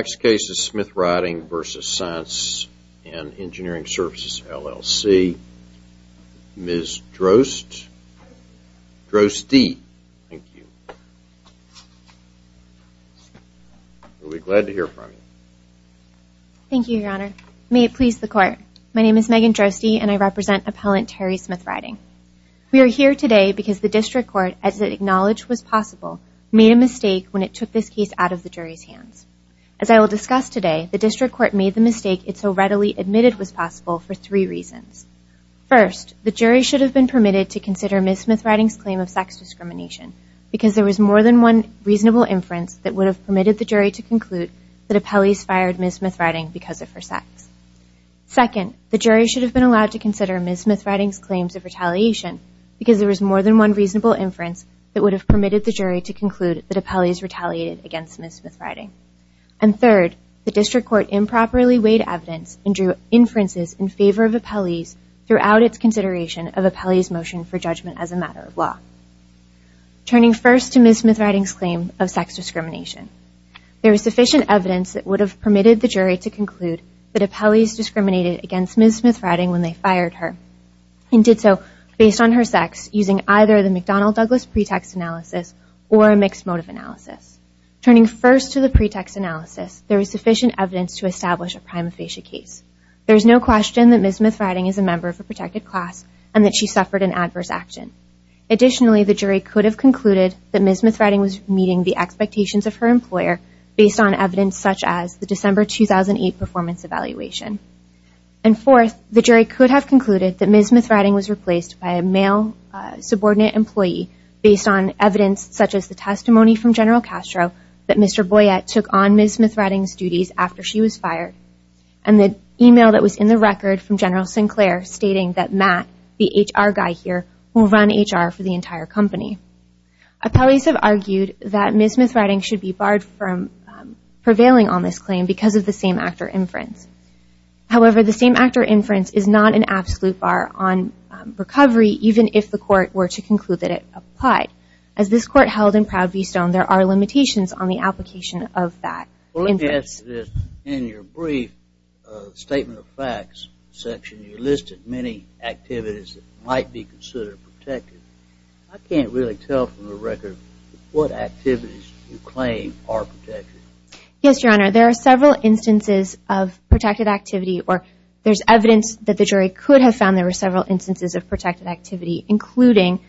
Services, LLC. Ms. Droste. Droste, thank you. We'll be glad to hear from you. Thank you, Your Honor. May it please the Court. My name is Megan Droste and I represent Appellant Terri Smyth-Riding. We are here today because the District Court, as it acknowledged was I will discuss today, the District Court made the mistake it so readily admitted was possible for three reasons. First, the jury should have been permitted to consider Ms. Smyth-Riding's claim of sex discrimination because there was more than one reasonable inference that would have permitted the jury to conclude that Appellee's fired Ms. Smyth-Riding because of her sex. Second, the jury should have been allowed to consider Ms. Smyth-Riding's claims of retaliation because there was more than one reasonable inference that would have retaliated against Ms. Smyth-Riding. And third, the District Court improperly weighed evidence and drew inferences in favor of Appellee's throughout its consideration of Appellee's motion for judgment as a matter of law. Turning first to Ms. Smyth-Riding's claim of sex discrimination, there was sufficient evidence that would have permitted the jury to conclude that Appellee's discriminated against Ms. Smyth-Riding when they fired her and did so based on her sex using either the McDonnell-Douglas pretext analysis or a mixed motive analysis. Turning first to the pretext analysis, there was sufficient evidence to establish a prima facie case. There's no question that Ms. Smyth-Riding is a member of a protected class and that she suffered an adverse action. Additionally, the jury could have concluded that Ms. Smyth-Riding was meeting the expectations of her employer based on evidence such as the December 2008 performance evaluation. And fourth, the jury could have concluded that Ms. Smyth-Riding was replaced by a male subordinate employee based on evidence such as the testimony from General Castro that Mr. Boyette took on Ms. Smyth-Riding's duties after she was fired and the email that was in the record from General Sinclair stating that Matt, the HR guy here, will run HR for the entire company. Appellees have argued that Ms. Smyth-Riding should be barred from prevailing on this claim because of the same actor inference. However, the same actor inference is not an absolute bar on recovery even if the court were to conclude that it applied. As this court held in Proud V Stone, there are limitations on the application of that inference. Well, let me ask you this. In your brief statement of facts section, you listed many activities that might be considered protected. I can't really tell from the record what activities you claim are protected. Yes, Your Honor. There are several instances of protected activity or there's evidence that the jury could have found there were several instances of protected activity including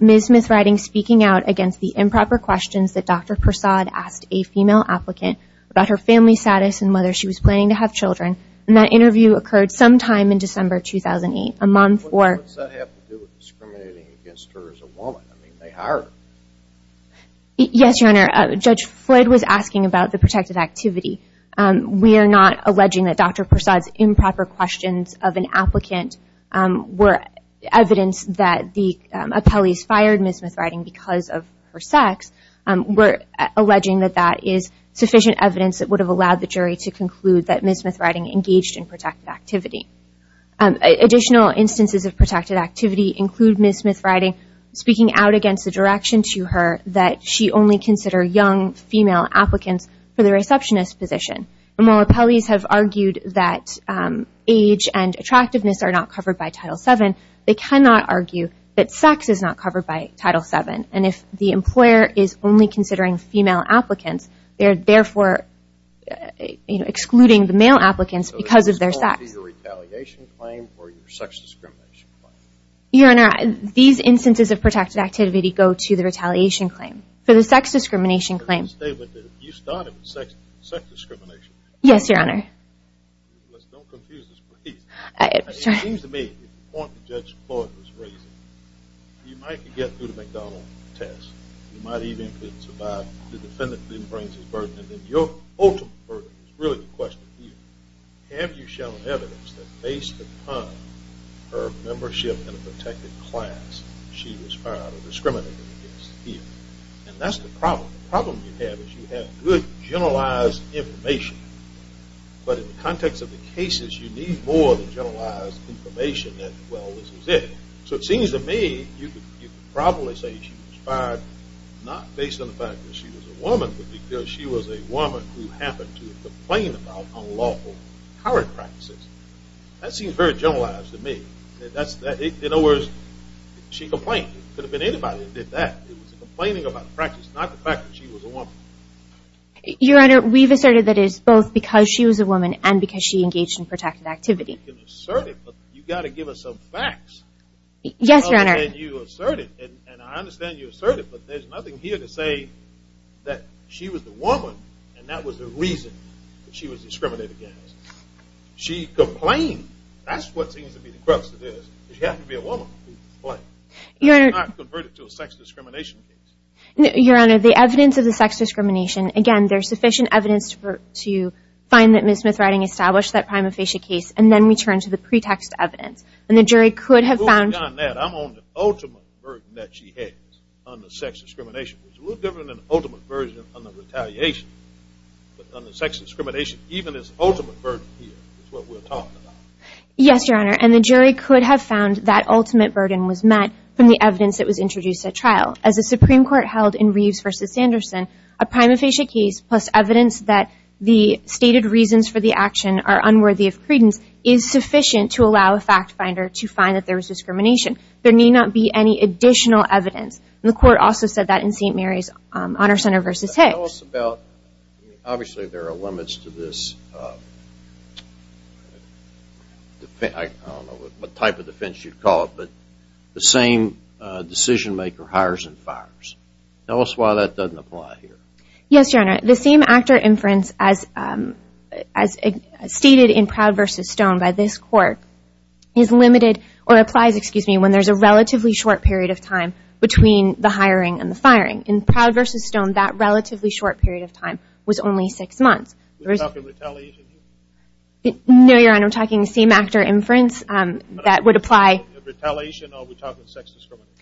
Ms. Smyth-Riding speaking out against the improper questions that Dr. Persaud asked a female applicant about her family status and whether she was planning to have children. And that interview occurred sometime in December 2008. A mom for What does that have to do with discriminating against her as a woman? I mean, they hired her. Yes, Your Honor. Judge Floyd was asking about the protected activity. We are not alleging that Dr. Persaud's improper questions of an applicant were evidence that the appellees fired Ms. Smyth-Riding because of her sex. We're alleging that that is sufficient evidence that would have allowed the jury to conclude that Ms. Smyth-Riding engaged in protected activity. Additional instances of protected activity include Ms. Smyth-Riding speaking out against the direction to her that she only consider young female applicants for the receptionist position. And while appellees have argued that age and attractiveness are not covered by Title VII, they cannot argue that sex is not covered by Title VII. And if the employer is only considering female applicants, they're therefore excluding the male applicants because of their sex. So this is going to your retaliation claim or your instances of protected activity go to the retaliation claim. For the sex discrimination claim. You started with sex discrimination. Yes, Your Honor. Don't confuse us, please. It seems to me, according to Judge Floyd's reasoning, you might get through the McDonald test. You might even survive. The defendant didn't raise his burden. And then your ultimate burden is really the question here. Have you shown evidence that based upon her membership in a protected class, she was fired or discriminated against here? And that's the problem. The problem you have is you have good, generalized information. But in the context of the cases, you need more than generalized information that, well, this is it. So it seems to me you could probably say she was fired not based on the fact that she was a woman, but because she was a woman who happened to complain about unlawful harassment practices. That seems very generalized to me. In other words, she complained. It could have been anybody that did that. It was the complaining about the practice, not the fact that she was a woman. Your Honor, we've asserted that it is both because she was a woman and because she engaged in protected activity. You can assert it, but you've got to give us some facts. Yes, Your Honor. Other than you asserted. And I understand you asserted, but there's nothing here to say that she was the woman and that was the reason that she was discriminated against. She complained. That's what seems to be the crux of this. She happened to be a woman who complained. Your Honor. That's not converted to a sex discrimination case. Your Honor, the evidence of the sex discrimination, again, there's sufficient evidence to find that Ms. Smith-Wrighting established that prima facie case and then return to the pretext evidence. And the jury could have found. I'm on the ultimate version that she has on the sex discrimination, which is a little different than the ultimate version on the retaliation on the sex discrimination. Even this ultimate version here is what we're talking about. Yes, Your Honor. And the jury could have found that ultimate burden was met from the evidence that was introduced at trial. As the Supreme Court held in Reeves v. Sanderson, a prima facie case plus evidence that the stated reasons for the action are unworthy of credence is sufficient to allow a fact finder to find that there was discrimination. There need not be any additional evidence. And the court also said that in St. Mary's Honor Center v. Hicks. Tell us about, obviously there are limits to this, I don't know what type of defense you'd call it, but the same decision maker hires and fires. Tell us why that doesn't apply here. Yes, Your Honor. The same actor inference as stated in Proud v. Stone by this court is limited, or applies, excuse me, when there's a relatively short period of time between the hiring and the firing. In Proud v. Stone, that relatively short period of time was only six months. You're talking retaliation here? No, Your Honor, I'm talking the same actor inference that would apply. Retaliation or are we talking sex discrimination?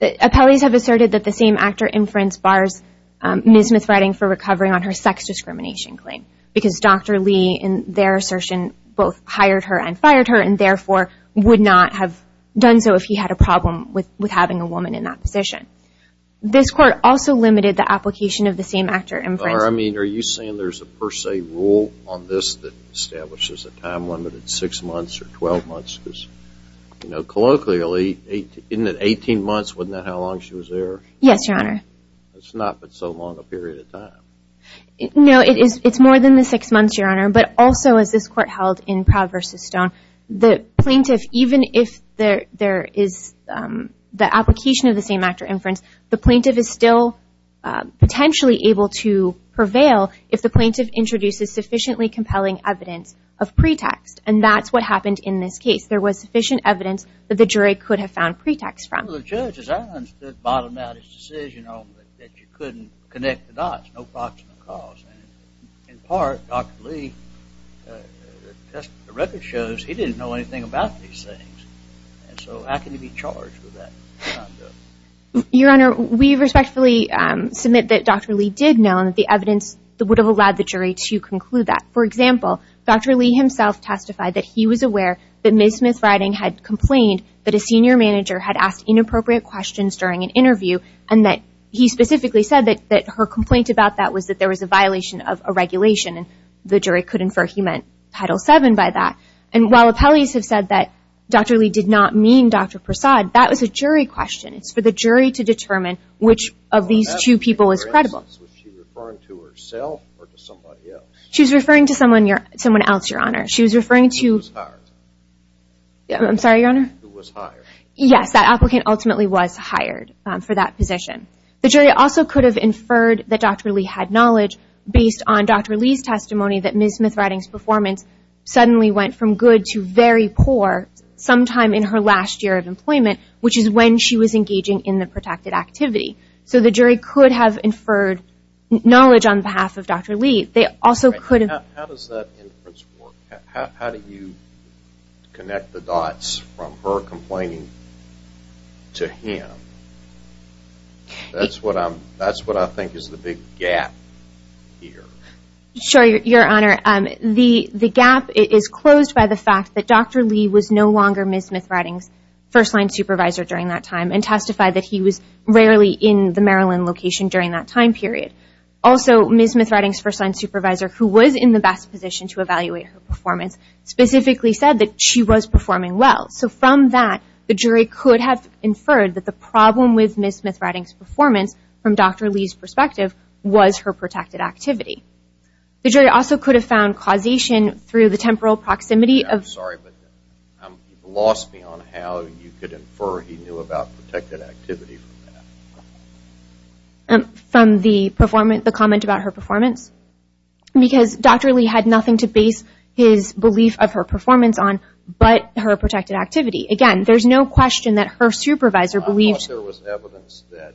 Appellees have asserted that the same actor inference bars Ms. Smith-Wrighting for recovering on her sex discrimination claim. Because Dr. Lee, in their assertion, both hired her and fired her and therefore would not have done so if he had a problem with having a woman in that position. This court also limited the application of the same actor inference. I mean, are you saying there's a per se rule on this that establishes a time limit of six months or 12 months? Because, you know, colloquially, isn't it 18 months, wasn't that how long she was there? Yes, Your Honor. That's not been so long a period of time. No, it's more than the six months, Your Honor, but also as this court held in Proud v. Stone, the plaintiff, even if there is the application of the same actor inference, the plaintiff is still potentially able to prevail if the plaintiff introduces sufficiently compelling evidence of pretext. And that's what happened in this case. There was sufficient evidence that the jury could have found pretext from. Well, the judge's answer at the bottom of his decision was that you couldn't connect the dots, no proximate cause. In part, Dr. Lee, the record shows he didn't know anything about these things. And so how can he be charged with that? Your Honor, we respectfully submit that Dr. Lee did know and that the evidence would have allowed the jury to conclude that. For example, Dr. Lee himself testified that he was aware that Ms. Smith-Riding had complained that a senior manager had asked inappropriate questions during an interview and that he specifically said that her complaint about that was that there was a violation of a regulation. The jury could infer he meant Title VII by that. And while appellees have said that Dr. Lee did not mean Dr. Prasad, that was a jury question. It's for the jury to determine which of these two people is credible. Was she referring to herself or to somebody else? She was referring to someone else, Your Honor. She was referring to... Who was hired. I'm sorry, Your Honor? Who was hired. Yes, that applicant ultimately was hired for that position. The jury also could have inferred that Dr. Lee had knowledge based on Dr. Lee's testimony that Ms. Smith-Riding's performance suddenly went from good to very poor sometime in her last year of employment, which is when she was engaging in the protracted activity. So the jury could have inferred knowledge on behalf of Dr. Lee. They also could have... How does that inference work? How do you connect the dots from her complaining to him? That's what I think is the big gap here. Sure, Your Honor. The gap is closed by the fact that Dr. Lee was no longer Ms. Smith-Riding's first-line supervisor during that time and testified that he was rarely in the Maryland location during that time period. Also, Ms. Smith-Riding's first-line supervisor, who was in the best position to evaluate her performance, specifically said that she was performing well. So from that, the jury could have inferred that the problem with Ms. Smith-Riding's performance from Dr. Lee's perspective was her protracted activity. The jury also could have found causation through the temporal proximity of... I'm sorry, but you've lost me on how you could infer he knew about protracted activity from that. From the comment about her performance? Because Dr. Lee had nothing to base his belief of her performance on but her protracted activity. Again, there's no question that her supervisor believed... I thought there was evidence that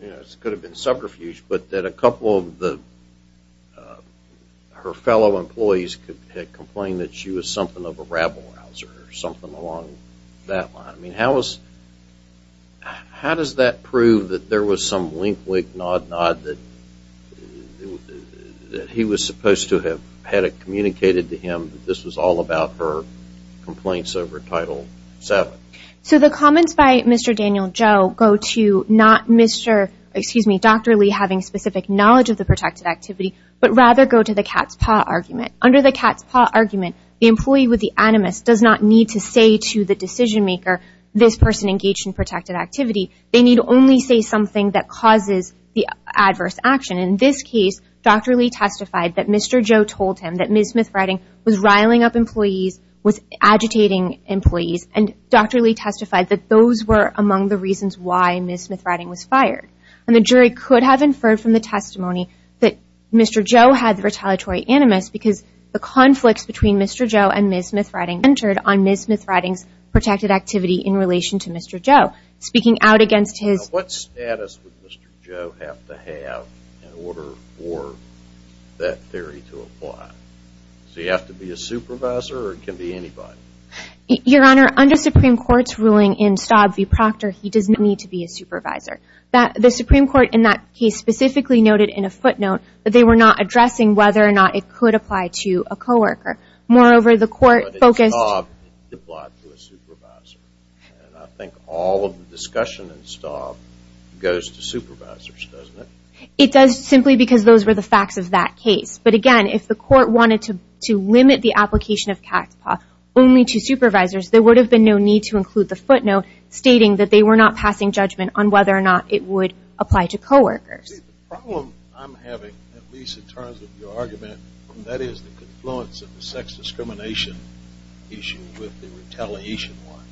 it could have been subterfuge, but that a couple of her fellow employees had complained that she was something of a rabble-rouser or something along that line. How does that prove that there was some wink-wink, nod-nod that he was supposed to have had it communicated to him that this was all about her complaints over Title VII? So the comments by Mr. Daniel Joe go to not Dr. Lee having specific knowledge of the protracted activity, but rather go to the cat's paw argument. Under the cat's paw argument, the employee with the animus does not need to say to the decision maker, this person engaged in protracted activity. They need only say something that causes the adverse action. In this case, Dr. Lee testified that Mr. Joe told him that Ms. Smith-Riding was riling up employees, was angry, and that Mr. Joe had retaliatory animus because the conflicts between Mr. Joe and Ms. Smith-Riding entered on Ms. Smith-Riding's protracted activity in relation to Mr. Joe, speaking out against his... What status would Mr. Joe have to have in order for that theory to apply? So you have to be a supervisor or it can be anybody? Your Honor, under the Supreme Court's ruling in Staub v. Proctor, he does not need to be a supervisor. The Supreme Court in that case specifically noted in a footnote that they were not addressing whether or not it could apply to a coworker. Moreover, the court focused... But in Staub, it applied to a supervisor. And I think all of the discussion in Staub goes to supervisors, doesn't it? It does, simply because those were the facts of that case. But again, if the court wanted to limit the application of CACPA only to supervisors, there would have been no need to include the footnote stating that they were not passing judgment on whether or not it would apply to coworkers. The problem I'm having, at least in terms of your argument, that is the confluence of the sex discrimination issue with the retaliation one.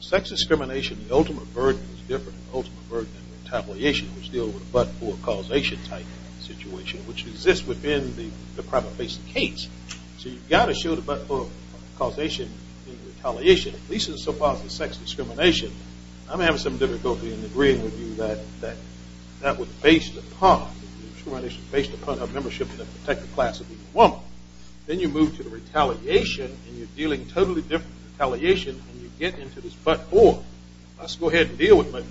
Sex discrimination, the ultimate burden is different. The ultimate burden in retaliation is to deal with a but-for causation type situation, which exists within the private-facing case. So you've got to show the but-for causation in retaliation. At least in so far as the sex discrimination, I'm having some difficulty in agreeing with you that that was based upon, that the discrimination was based upon a membership in a protected class of the woman. Then you move to the retaliation, and you're dealing totally different retaliation, and you get into this but-for. Let's go ahead and deal with the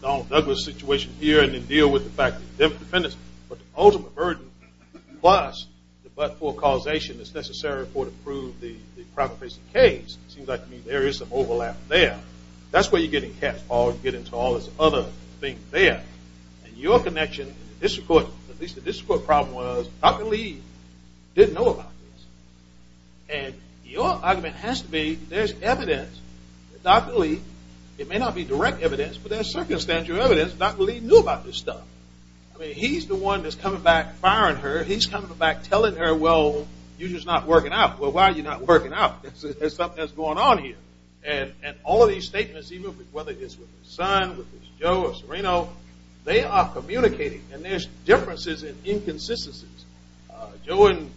Donald Douglas situation here, and then deal with the fact that the ultimate burden plus the but-for causation is necessary to prove the private-facing case. It seems like there is some overlap there. That's where you get in cat's paw. You get into all this other thing there. And your connection, at least the district court problem was, Dr. Lee didn't know about this. And your argument has to be, there's evidence. Dr. Lee, it may not be direct evidence, but there's circumstantial evidence. Dr. Lee knew about this stuff. I mean, he's the one that's coming back, firing her. He's coming back, telling her, well, you're just not working out. Well, why are you not working out? There's something that's going on here. And all of these statements, even whether it's with his son, with Joe or Serino, they are communicating. And there's differences and inconsistencies. Joe and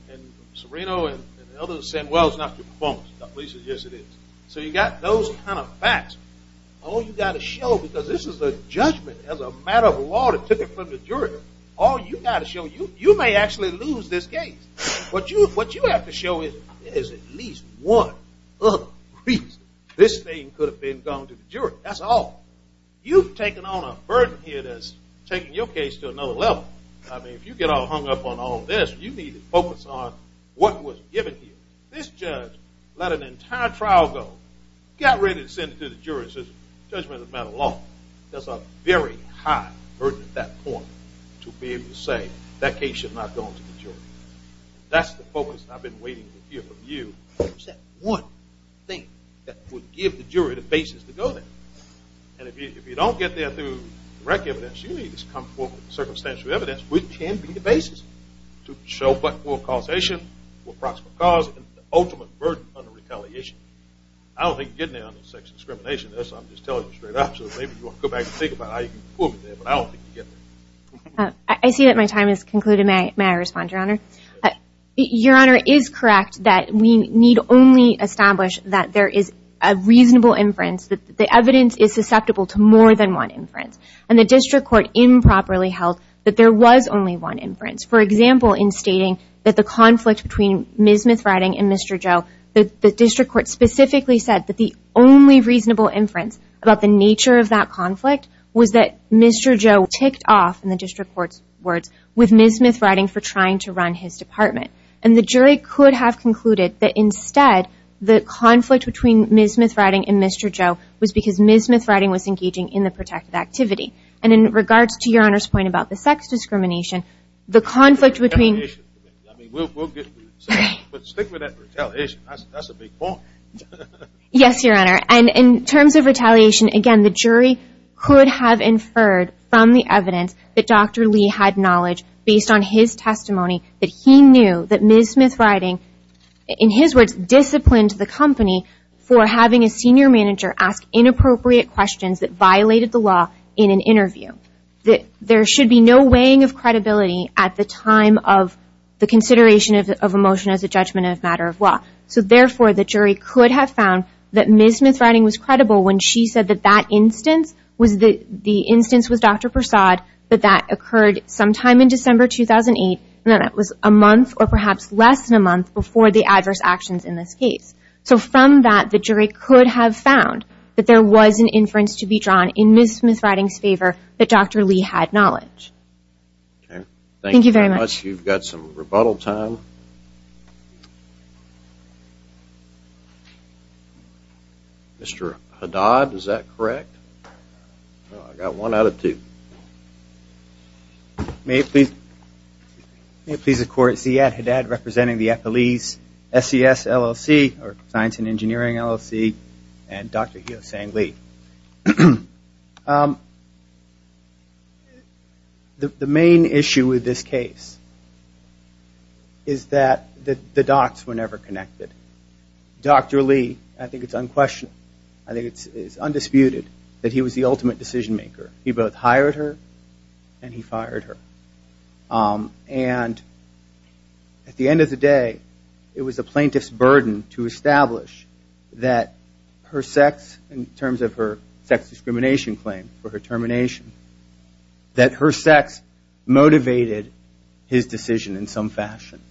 Serino and others are saying, well, it's not your performance. Dr. Lee says, yes, it is. So you've got those kind of facts. All you've got to show, because this is a judgment as a matter of law that took it from the jury, all you've got to show, you may actually lose this case. What you have to show is there is at least one other reason this thing could have been gone to the jury. That's all. You've taken on a burden here that's taking your case to another level. I mean, if you get all hung up on all this, you need to focus on what was given here. This judge let an entire trial go, got ready to send it to the jury and says, judgment as a matter of law. There's a very high burden at that point to be able to say that case should not go to the jury. That's the focus I've been waiting to hear from you. What's that one thing that would give the jury the basis to go there? And if you don't get there through direct evidence, you need to come forward with circumstantial evidence, which can be the basis to show what will causation, what proximal cause, and the ultimate burden under retaliation. I don't think you can get there under sex discrimination. I'm just telling you straight up, so maybe you want to go back and think about how you can pull me there, but I don't think you can get there. I see that my time has concluded. May I respond, Your Honor? Your Honor, it is correct that we need only establish that there is a reasonable inference that the evidence is susceptible to more than one inference. And the district court improperly revealed that there was only one inference. For example, in stating that the conflict between Ms. Smith-Riding and Mr. Joe, the district court specifically said that the only reasonable inference about the nature of that conflict was that Mr. Joe ticked off, in the district court's words, with Ms. Smith-Riding for trying to run his department. And the jury could have concluded that instead, the conflict between Ms. Smith-Riding and Mr. Joe was because Ms. Smith-Riding was engaging in the protective activity. And in regards to Your Honor's point about the sex discrimination, the conflict between... Retaliation. I mean, we'll stick with that retaliation. That's a big point. Yes, Your Honor. And in terms of retaliation, again, the jury could have inferred from the evidence that Dr. Lee had knowledge, based on his testimony, that he knew that Ms. Smith-Riding, in his words, disciplined the company for having a senior manager ask inappropriate questions that violated the law in an interview. That there should be no weighing of credibility at the time of the consideration of a motion as a judgment of a matter of law. So therefore, the jury could have found that Ms. Smith-Riding was credible when she said that that instance, the instance with Dr. Persaud, that that occurred sometime in December 2008, and then it was a month or perhaps less than a month before the adverse actions in this case. So from that, the jury could have found that there was an inference to be drawn in Ms. Smith-Riding's favor that Dr. Lee had knowledge. Thank you very much. You've got some rebuttal time. Mr. Haddad, is that correct? I've got one out of two. May it please the court, Ziad Haddad, representing the FLE's SCS LLC, or Science and Engineering LLC, and Dr. Heosang Lee. The main issue with this case is that the dots were never connected. Dr. Lee, I think it's unquestionable, I think it's undisputed, that he was the ultimate decision maker. He both hired her and he fired her. And at the end of the day, it was the plaintiff's burden to establish that her sex, in terms of her sex discrimination claim for her termination, that her sex motivated his decision in some fashion.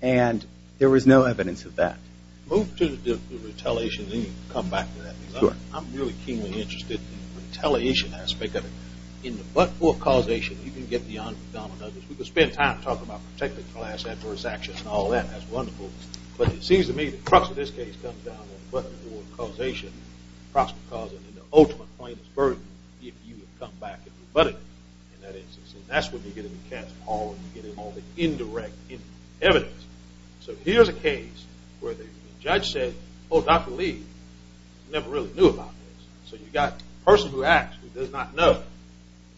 And there was no evidence of that. Move to the retaliation, then you can come back to that. I'm really keenly interested in the retaliation aspect of it. In the but-for causation, you can get beyond predominance. We could spend time talking about protective class adverse action and all that. That's wonderful. But it seems to me the crux of this case comes down to the but-for causation, the prospect of causing the ultimate plaintiff's burden, if you would come back and rebut it. And that's when you get into the cat's paw, when you get into all the indirect evidence. So here's a case where the judge said, oh, Dr. Lee never really knew about this. So you got a person who acts who does not know,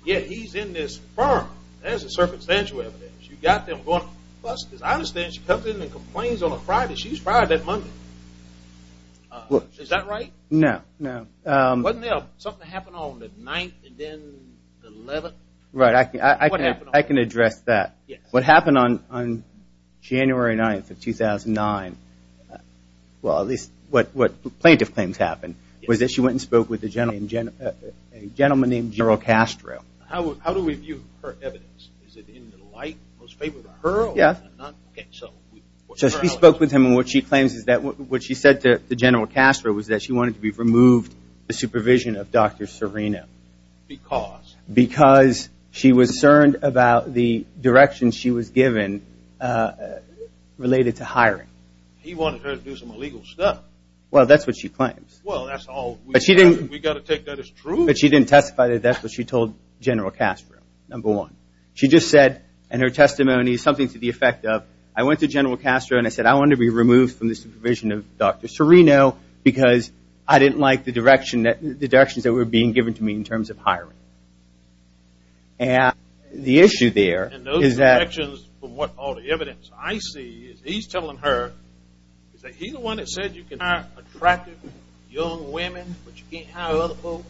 yet he's in this firm. There's the circumstantial evidence. You got them going, plus, as I understand, she comes in and complains on a Friday. She was fired that Monday. Is that right? No, no. Wasn't there something that happened on the 9th and then the 11th? Right. I can address that. What happened on January 9th of 2009, well, at least what plaintiff claims happened, was that she went and spoke with a gentleman named General Castro. How do we view her evidence? Is it in the light, in favor of her, or not? Yes. So she spoke with him, and what she claims is that what she said to General Castro was that she wanted to be removed the supervision of Dr. Serino. Because? Because she was cerned about the direction she was given related to hiring. He wanted her to do some illegal stuff. Well, that's what she claims. Well, that's all. But she didn't... We got to take that as true. But she didn't testify that that's what she told General Castro, number one. She just said, in her testimony, something to the effect of, I went to General Castro and I said, I wanted to be removed from the supervision of Dr. Serino because I didn't like the directions that were being given to me in terms of hiring. And the issue there is that... And those directions, from what all the evidence I see, is he's telling her, is that he's the one that said you can hire attractive young women, but you can't hire other folks,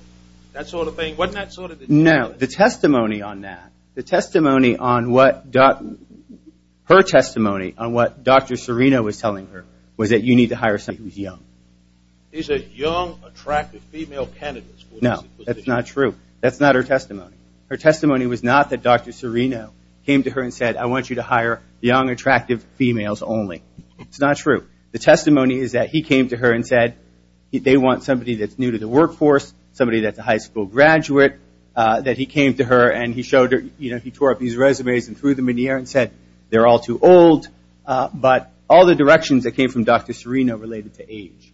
that sort of thing? Wasn't that sort of the... No, the testimony on that, the testimony on what Dr. Serino was telling her, was that you need to hire somebody who's young. Is it young, attractive female candidates? No, that's not true. That's not her testimony. Her testimony was not that Dr. Serino came to her and said, I want you to hire young, attractive females only. It's not true. The testimony is that he came to her and said, they want somebody that's new to the workforce, somebody that's a high school graduate, that he came to her and he showed her... He tore up his resumes and threw them in the air and said, they're all too old. But all the directions that came from Dr. Serino related to age.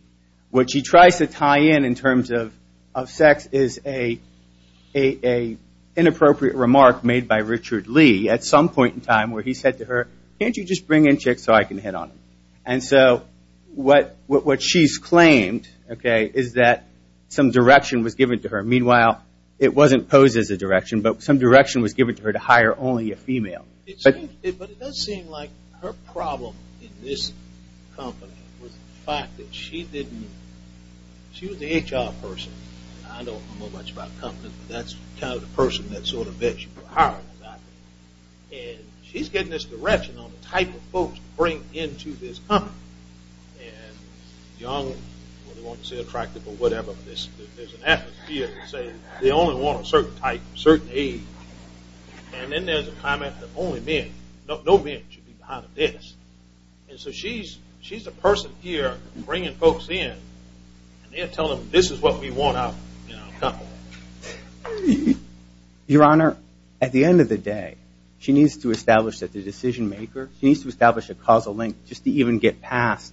What she tries to tie in, in terms of sex, is an inappropriate remark made by Richard Lee at some point in time where he said to her, can't you just bring in chicks so I can hit on them? And so what she's claimed is that some direction was given to her. Meanwhile, it wasn't posed as a direction, but some direction was given to her to hire only a female. But it does seem like her problem in this company was the fact that she didn't... She was an HR person. I don't know much about companies, but that's the kind of person that sort of fits you for hiring. And she's getting this direction on the type of folks to bring into this company. And young, they want to stay attractive or whatever, but there's an atmosphere that says they only want a certain type, a certain age. And then there's a comment that only men, no men should be behind a desk. And so she's a person here bringing folks in and they're telling them, this is what we want out of a couple. Your Honor, at the end of the day, she needs to establish that the decision maker, she needs to establish a causal link just to even get past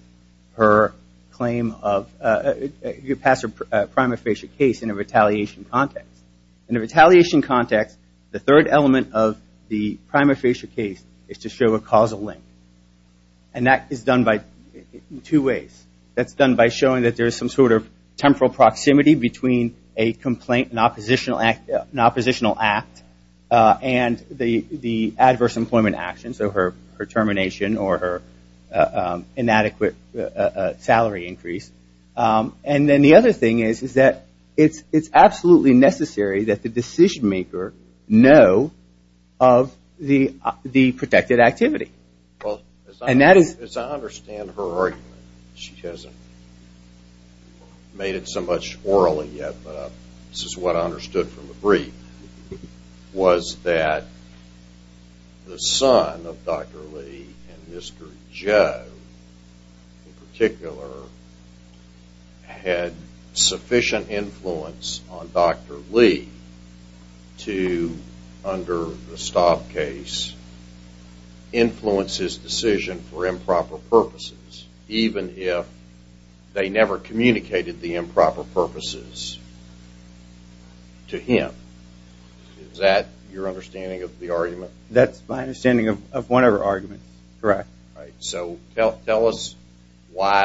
her claim of... In a retaliation context, the third element of the prima facie case is to show a causal link. And that is done in two ways. That's done by showing that there's some sort of temporal proximity between a complaint and an oppositional act and the adverse employment action. So her termination or her inadequate salary increase. And then the other thing is that it's absolutely necessary that the decision maker know of the protected activity. As I understand her argument, she hasn't made it so much orally yet, but this is what I understood from the brief, was that the son of Dr. Lee and Mr. Joe in particular, had sufficient influence on Dr. Lee to, under the Staub case, influence his decision for improper purposes, even if they never communicated the improper purposes to him. Is that your understanding of the argument? That's my understanding of whatever argument, correct. So tell us why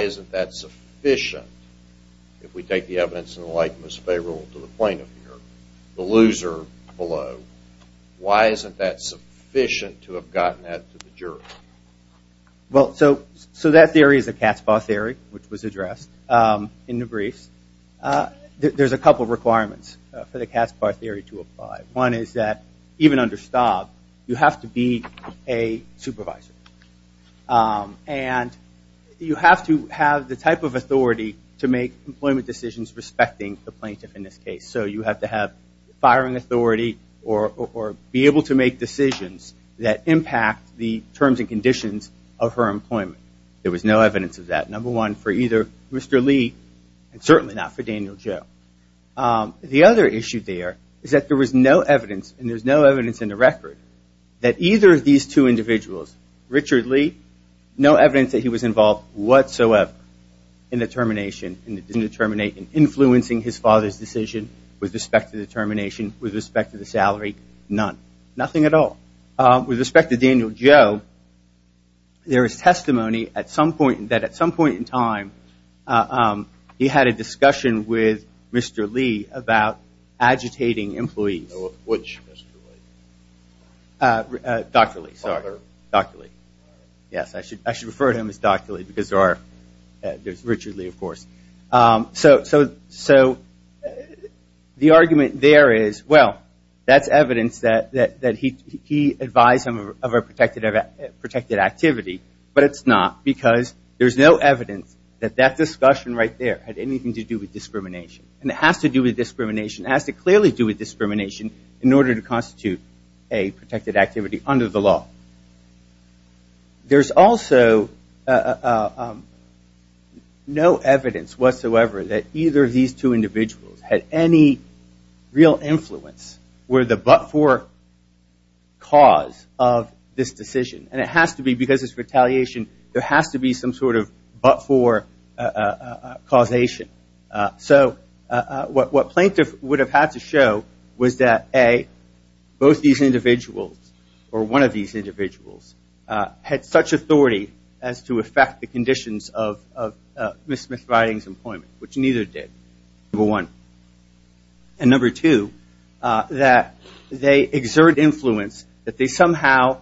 isn't that sufficient, if we take the evidence in the light that was favorable to the plaintiff here, the loser below, why isn't that sufficient to have gotten that to the jury? Well, so that theory is the Katzbach theory, which was addressed in the briefs. There's a couple of requirements for the Katzbach theory to apply. One is that even under Staub, you have to be a supervisor. And you have to have the type of authority to make employment decisions respecting the plaintiff in this case. So you have to have firing authority or be able to make decisions that impact the terms and conditions of her employment. There was no evidence of that, number one, for either Mr. Lee and certainly not for Daniel Joe. The other issue there is that there was no evidence, and there's no evidence in the record, that either of these two individuals, Richard Lee, no evidence that he was involved whatsoever in the termination, in influencing his father's decision with respect to the termination, with respect to the salary, none, nothing at all. With respect to Daniel Joe, there is testimony that at some point in time, he had a conversation with Mr. Lee about agitating employees. Which Mr. Lee? Dr. Lee, sorry. Father? Dr. Lee. Father? Yes, I should refer to him as Dr. Lee because there's Richard Lee, of course. So the argument there is, well, that's evidence that he advised him of a protected activity, but it's not because there's no evidence that that discussion right there had anything to do with discrimination. And it has to do with discrimination. It has to clearly do with discrimination in order to constitute a protected activity under the law. There's also no evidence whatsoever that either of these two individuals had any real influence, were the but-for cause of this decision. And it has to be, because it's retaliation, there has to be some sort of but-for causation. So what plaintiff would have had to show was that, A, both these individuals, or one of these individuals, had such authority as to affect the conditions of Ms. Smith-Ridings' employment, which neither did, number one. And number two, that they exert influence, that they somehow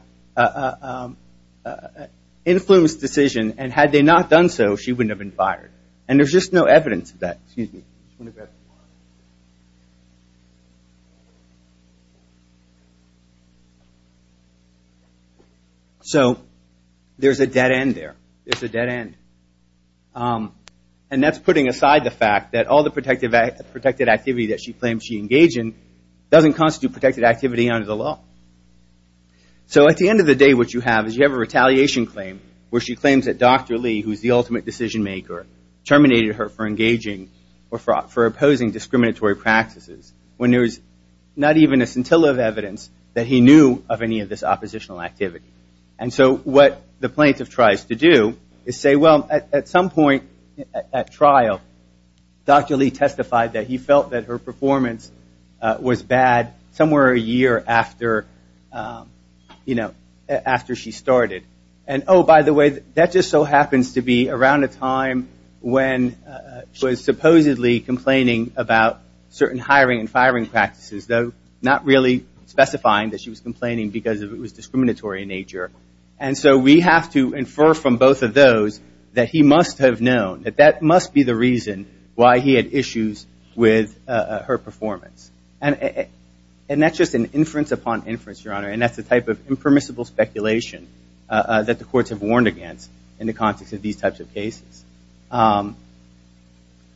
influence the decision, and had they not done so, she wouldn't have been fired. And there's just no evidence of that. Excuse me. So there's a dead end there. There's a dead end. And that's putting aside the fact that all the protected activity that she claims she engage in doesn't constitute protected activity under the law. So at the end of the day, what you have is you have a retaliation claim, where she claims that Dr. Lee, who's the ultimate decision maker, terminated her for engaging or for opposing discriminatory practices, when there's not even a scintilla of evidence that he knew of any of this oppositional activity. And so what the plaintiff tries to do is say, well, at some point at trial, Dr. Lee testified that he felt that her performance was bad somewhere a year after she started. And oh, by the way, that just so happens to be around a time when she was supposedly complaining about certain hiring and firing practices, though not really specifying that she was complaining because it was discriminatory in nature. And so we have to infer from both of those that he must have known, that that must be the reason why he had issues with her performance. And that's just an inference upon inference, Your Honor. And that's the type of impermissible speculation that the courts have warned against in the context of these types of cases.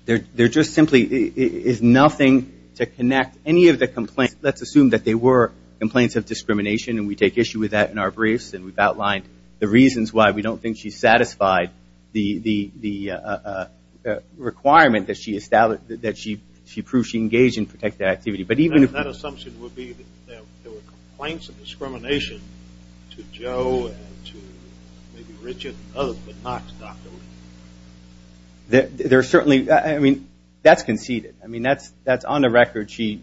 There just simply is nothing to connect any of the complaints. Let's assume that they were complaints of discrimination, and we take issue with that in our briefs, and we've outlined the reasons why we don't think she satisfied the requirement that she proved she engaged in protective activity. But even if that assumption would be that there were complaints of discrimination to Joe and to maybe Richard and others, but not to Dr. Lee. There are certainly, I mean, that's conceded. I mean, that's on the record. There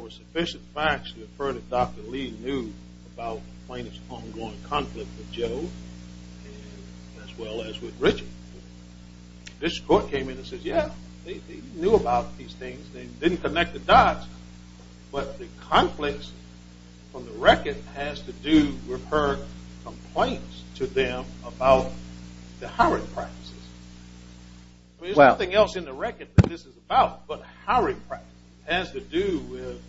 were sufficient facts to infer that Dr. Lee knew about the plaintiff's ongoing conflict with Joe as well as with Richard. This court came in and said, yeah, they knew about these things. They didn't connect the dots, but the conflicts on the record has to do with her complaints to them about the hiring practices. I mean, there's nothing else in the record that this is about, but hiring practices has to do with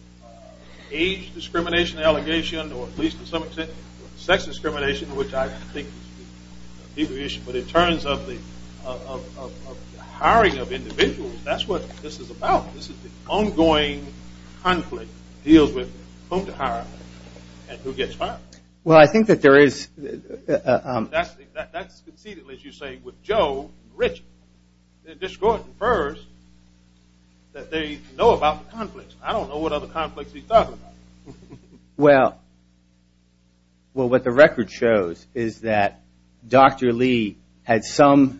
age discrimination, allegation, or at least to some extent sex discrimination, which I think is a big issue. But in terms of the hiring of individuals, that's what this is about. This is the ongoing conflict that deals with whom to hire and who gets hired. Well, I think that there is... That's conceded, as you say, with Joe and Richard. This court infers that they know about the conflicts. I don't know what other conflicts he's talking about. Well, what the record shows is that Dr. Lee had some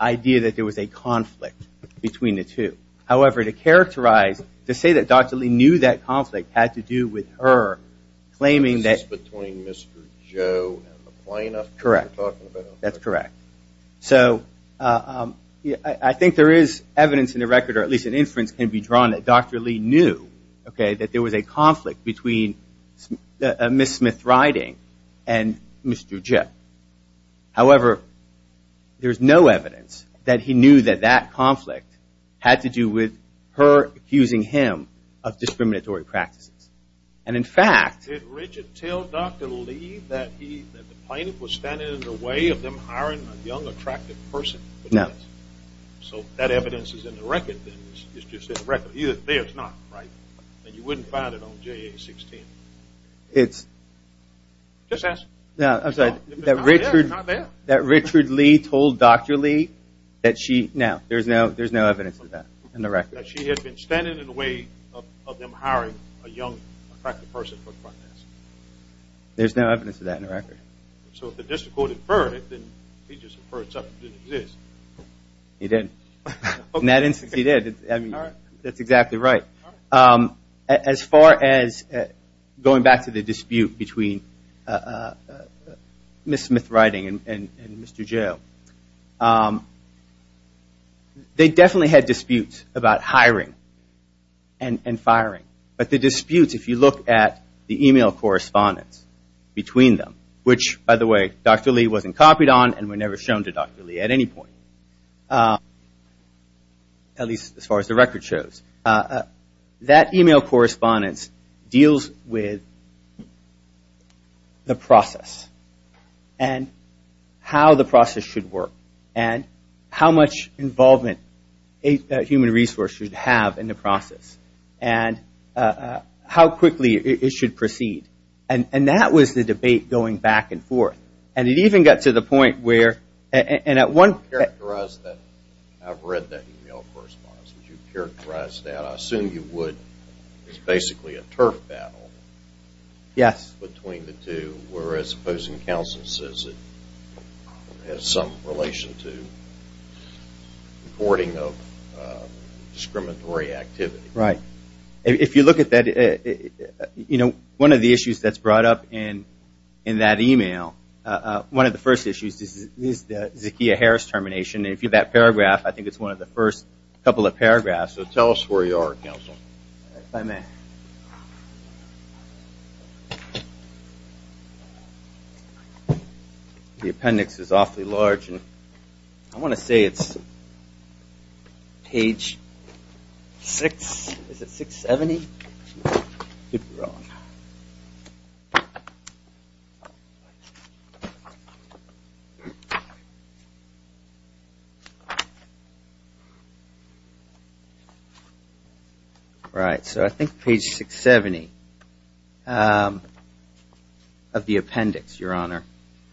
idea that there was a conflict between the two. However, to characterize, to say that Dr. Lee knew that conflict had to do with her claiming that... This is between Mr. Joe and the plaintiff? Correct. That's correct. So, I think there is evidence in the record, or at least an inference can be drawn that Dr. Lee knew that there was a conflict between Ms. Smith-Riding and Mr. Jip. However, there's no evidence that he knew that that conflict had to do with her accusing him of discriminatory practices. And in fact... Did Richard tell Dr. Lee that the plaintiff was standing in the way of them hiring a young, attractive person? No. So, that evidence is in the record. It's not, right? You wouldn't find it on JA-16. It's... Just ask. No, I'm sorry. That Richard Lee told Dr. Lee that she... No, there's no evidence of that in the record. That she had been standing in the way of them hiring a young, attractive person. There's no evidence of that in the record. So, if the district court inferred it, then he just inferred something didn't exist. He didn't. In that instance, he did. That's exactly right. As far as going back to the dispute between Ms. Smith-Riding and Mr. Joe, they definitely had disputes about hiring and firing. But the disputes, if you look at the email correspondence between them, which, by the way, Dr. Lee wasn't copied on and were never shown to Dr. Lee at any point. At least as far as the record shows. That email correspondence deals with the process and how the process should work and how much involvement a human resource should have in the how quickly it should proceed. And that was the debate going back and forth. And it even got to the point where I've read that email correspondence and you've characterized that. I assume you would. It's basically a turf battle between the two, whereas opposing counsel says it has some relation to reporting of discriminatory activity. Right. If you look at that, you know, one of the issues that's brought up in that email, one of the first issues is the Zakia Harris termination. And if you look at that paragraph, I think it's one of the first couple of paragraphs. So tell us where you are, counsel. If I may. The appendix is awfully large. I want to say it's page 670. Right. So I think page 670 of the appendix, Your Honor.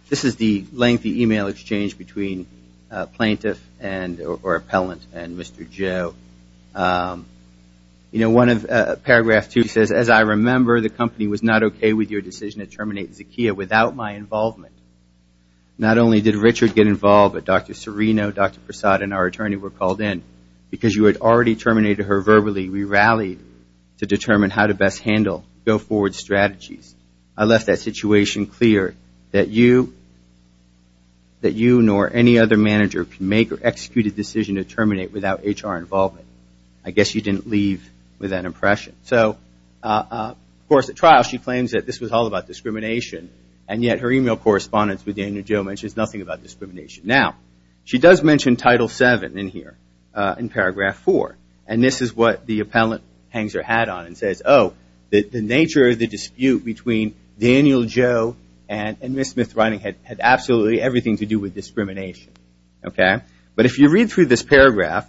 This is the lengthy email exchange between plaintiff or appellant and Mr. Joe. You know, paragraph two says, as I remember, the company was not okay with your decision to terminate Zakia without my involvement. Not only did Richard get involved, but Dr. Serino, Dr. Prasad, and our attorney were called in because you had already terminated her verbally. We rallied to determine how to best handle go forward strategies. I left that situation clear that you nor any other manager could make or execute a decision to terminate without HR involvement. I guess you didn't leave with that impression. Of course, at trial she claims that this was all about discrimination. And yet her email correspondence with Daniel Joe mentions nothing about discrimination. Now, she does mention Title VII in here, in paragraph four. And this is what the appellant hangs her hat on and says, oh, the nature of the dispute between Daniel Joe and Ms. Smith-Reining had absolutely everything to do with discrimination. But if you read through this paragraph,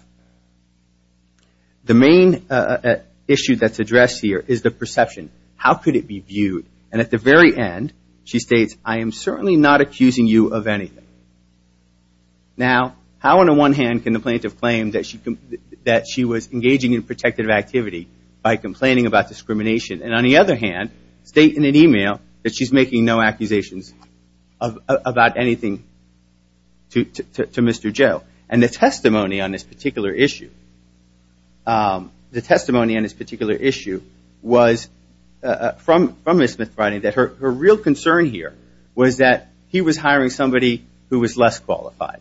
the main issue that's addressed here is the perception. How could it be viewed? And at the very end, she states, I am certainly not accusing you of anything. Now, how on the one hand can the plaintiff claim that she was engaging in protective activity by complaining about discrimination? And on the other hand, state in an email that she's making no accusations about anything to Mr. Joe. And the testimony on this particular issue was from Ms. Smith-Reining that her real concern here was that he was hiring somebody who was less qualified.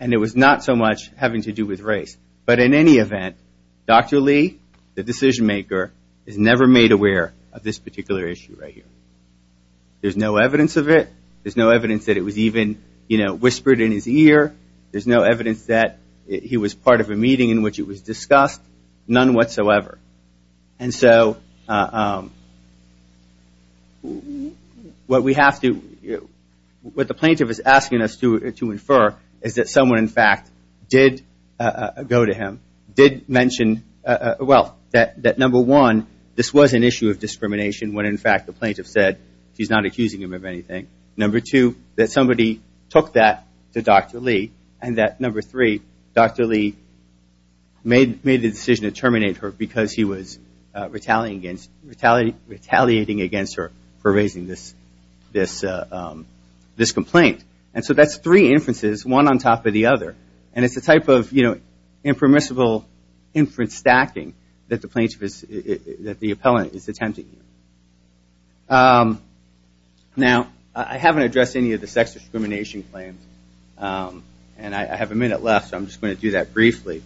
And it was not so much having to do with race. But in any event, Dr. Lee, the decision maker, is never made aware of this There's no evidence of it. There's no evidence that it was even whispered in his ear. There's no evidence that he was part of a meeting in which it was discussed. None whatsoever. And so what we have to what the plaintiff is asking us to infer is that someone, in fact, did go to him, did mention well, that number one, this was an issue of discrimination when in fact the plaintiff said she's not accusing him of anything. Number two, that somebody took that to Dr. Lee. And that number three, Dr. Lee made the decision to terminate her because he was retaliating against her for raising this complaint. And so that's three inferences, one on top of the other. And it's the type of impermissible inference stacking that the plaintiff is that the appellant is attempting. Now, I haven't addressed any of the sex discrimination claims and I have a minute left, so I'm just going to do that briefly.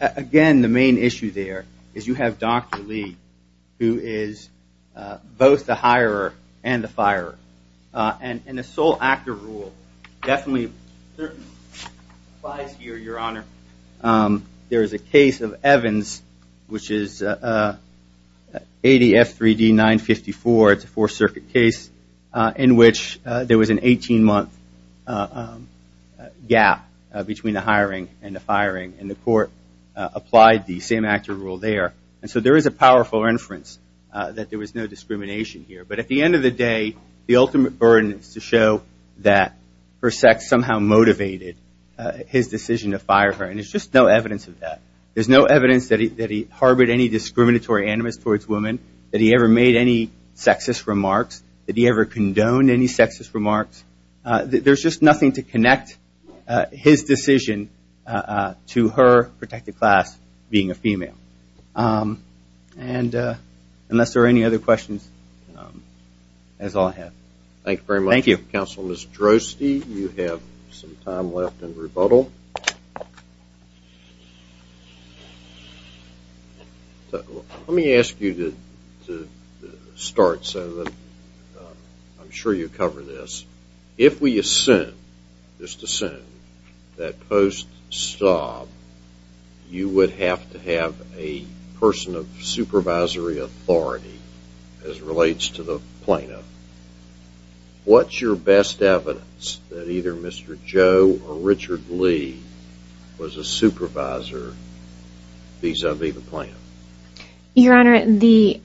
Again, the main issue there is you have Dr. Lee, who is both the hirer and the firer. And the sole actor rule definitely applies here, Your Honor. There is a case of Evans, which is ADF 3D 954, it's a four circuit case, in which there was an 18 month gap between the hiring and the firing. And the court applied the same actor rule there. And so there is a powerful inference that there was no discrimination here. But at the end of the day, the ultimate burden is to show that her sex somehow motivated his decision to fire her. And there's just no evidence of that. There's no evidence that he harbored any discriminatory animus towards women, that he ever made any sexist remarks, that he ever condoned any sexist remarks. There's just nothing to connect his decision to her protected class being a female. And unless there are any other questions, that's all I have. Thank you. Thank you very much, Counsel. Ms. Drosty, you have some time left in rebuttal. Let me ask you to start, Senator. I'm sure you'll cover this. If we assume, just assume, that post-stob you would have to have a person of supervisory authority as relates to the plaintiff, what's your best evidence that either Mr. Joe or Richard Lee was a supervisor vis-a-vis the plaintiff? Your Honor, the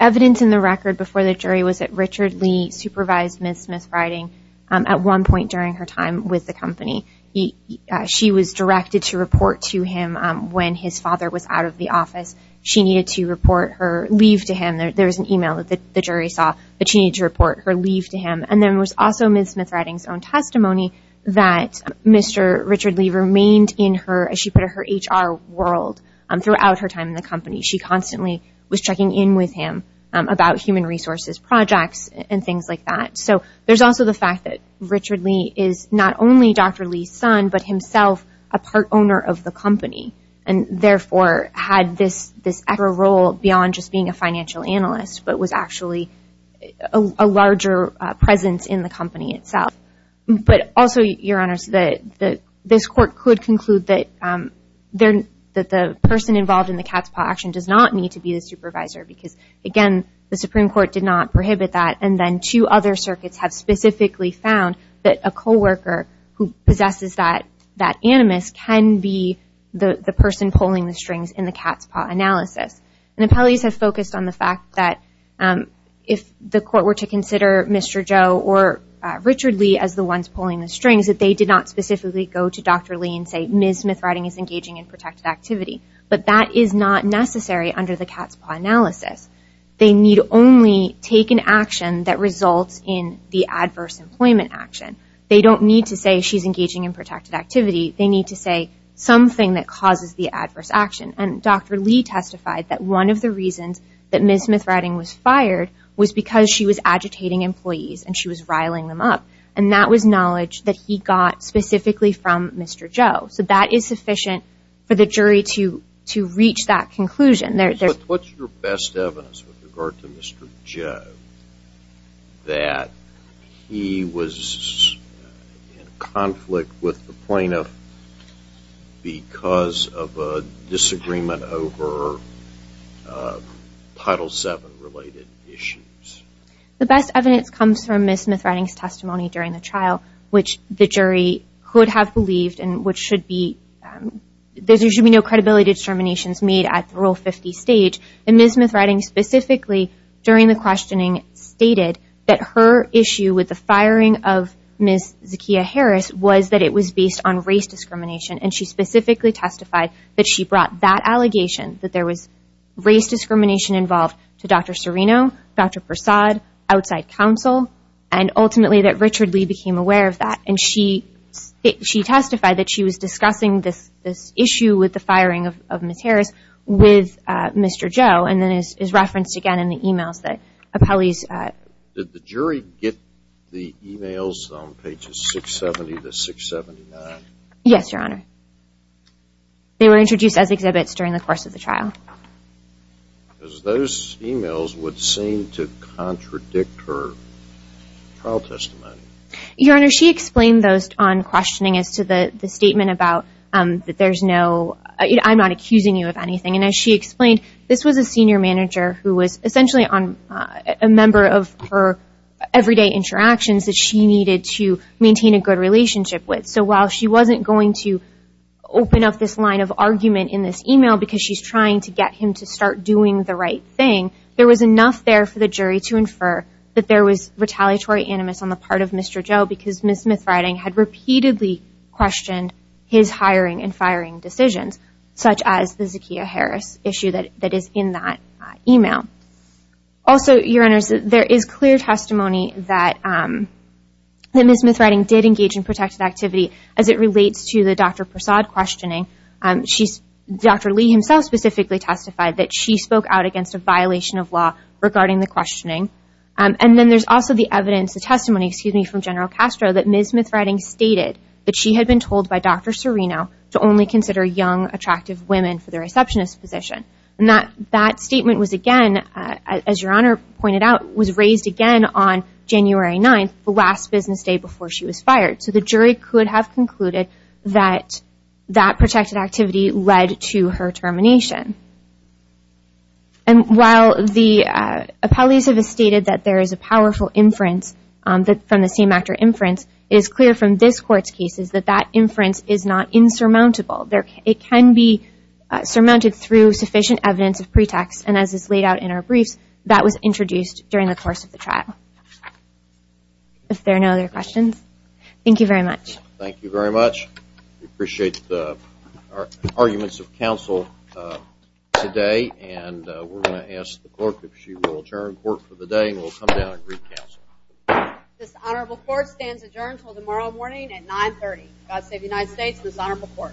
evidence in the record before the jury was that Richard Lee supervised Ms. Smith's writing at one point during her time with the company. She was directed to report to him when his father was out of the office. She needed to report her leave to him. There was an email that the jury saw that she needed to report her leave to him. And there was also Ms. Smith's writing's own testimony that Mr. Richard Lee remained in her, as she put it, her HR world throughout her time in the company. She constantly was checking in with him about human resources projects and things like that. So there's also the fact that Richard Lee is not only Dr. Lee's son, but himself a part owner of the company and therefore had this extra role beyond just being a financial analyst, but was actually a larger presence in the company itself. But also, Your Honor, this court could conclude that the person involved in the cat's paw action does not need to be the supervisor because again, the Supreme Court did not prohibit that. And then two other circuits have specifically found that a co-worker who possesses that animus can be the person pulling the strings in the cat's paw analysis. And the appellees have focused on the fact that if the court were to consider Mr. Joe or Richard Lee as the ones pulling the strings, that they did not specifically go to Dr. Lee and say, Ms. Smith's writing is engaging in protected activity. But that is not necessary under the cat's paw analysis. They need only take an action that results in the adverse employment action. They don't need to say she's engaging in protected activity. They need to say something that Dr. Lee testified that one of the reasons that Ms. Smith's writing was fired was because she was agitating employees and she was riling them up. And that was knowledge that he got specifically from Mr. Joe. So that is sufficient for the jury to reach that conclusion. What's your best evidence with regard to Mr. Joe that he was in conflict with the plaintiff because of a disagreement over Title VII related issues? The best evidence comes from Ms. Smith's writing testimony during the trial, which the jury could have believed and there should be no credibility determinations made at Rule 50 stage. And Ms. Smith's writing specifically during the questioning stated that her issue with the firing of Ms. Zakia Harris was that it was based on race discrimination. And she specifically testified that she brought that allegation that there was race discrimination involved to Dr. Serino, Dr. Persaud, outside counsel, and ultimately that Richard Lee became aware of that. And she testified that she was discussing this issue with the firing of Ms. Harris with Mr. Joe and is referenced again in the emails that appellees Did the jury get the emails on pages 670 to 679? Yes, Your Honor. They were introduced as exhibits during the course of the trial. Because those emails would seem to contradict her trial testimony. Your Honor, she explained those on questioning as to the statement about that there's no, I'm not accusing you of anything. And as she explained, this was a senior manager who was essentially a member of her everyday interactions that she needed to maintain a good relationship with. So while she wasn't going to open up this line of argument in this email because she's trying to get him to start doing the right thing, there was enough there for the jury to infer that there was retaliatory animus on the part of Mr. Joe because Ms. Smith's writing had repeatedly questioned his hiring and firing decisions, such as the Zakia Harris issue that is in that email. Also, Your Honor, there is clear testimony that Ms. Smith's writing did engage in protected activity as it relates to the Dr. Persaud questioning. Dr. Lee himself specifically testified that she spoke out against a violation of law regarding the questioning. And then there's also the evidence, the testimony, excuse me, from General Castro that Ms. Smith's writing stated that she had been told by Dr. Serino to only consider young, attractive women for the receptionist position. And that statement was again, as Your Honor pointed out, was raised again on January 9th, the last business day before she was fired. So the jury could have concluded that that protected activity led to her termination. And while the appellees have stated that there is a powerful inference from the same actor inference, it is clear from this Court's cases that that inference is not insurmountable. It can be surmounted through sufficient evidence of pretext, and as is laid out in our briefs, that was introduced during the course of the trial. If there are no other questions, thank you very much. Thank you very much. We appreciate the arguments of counsel today, and we're going to ask the Court if she will adjourn court for the day, and we'll come down and read counsel. This Honorable Court stands adjourned until tomorrow morning at 9.30. God save the United States and this Honorable Court.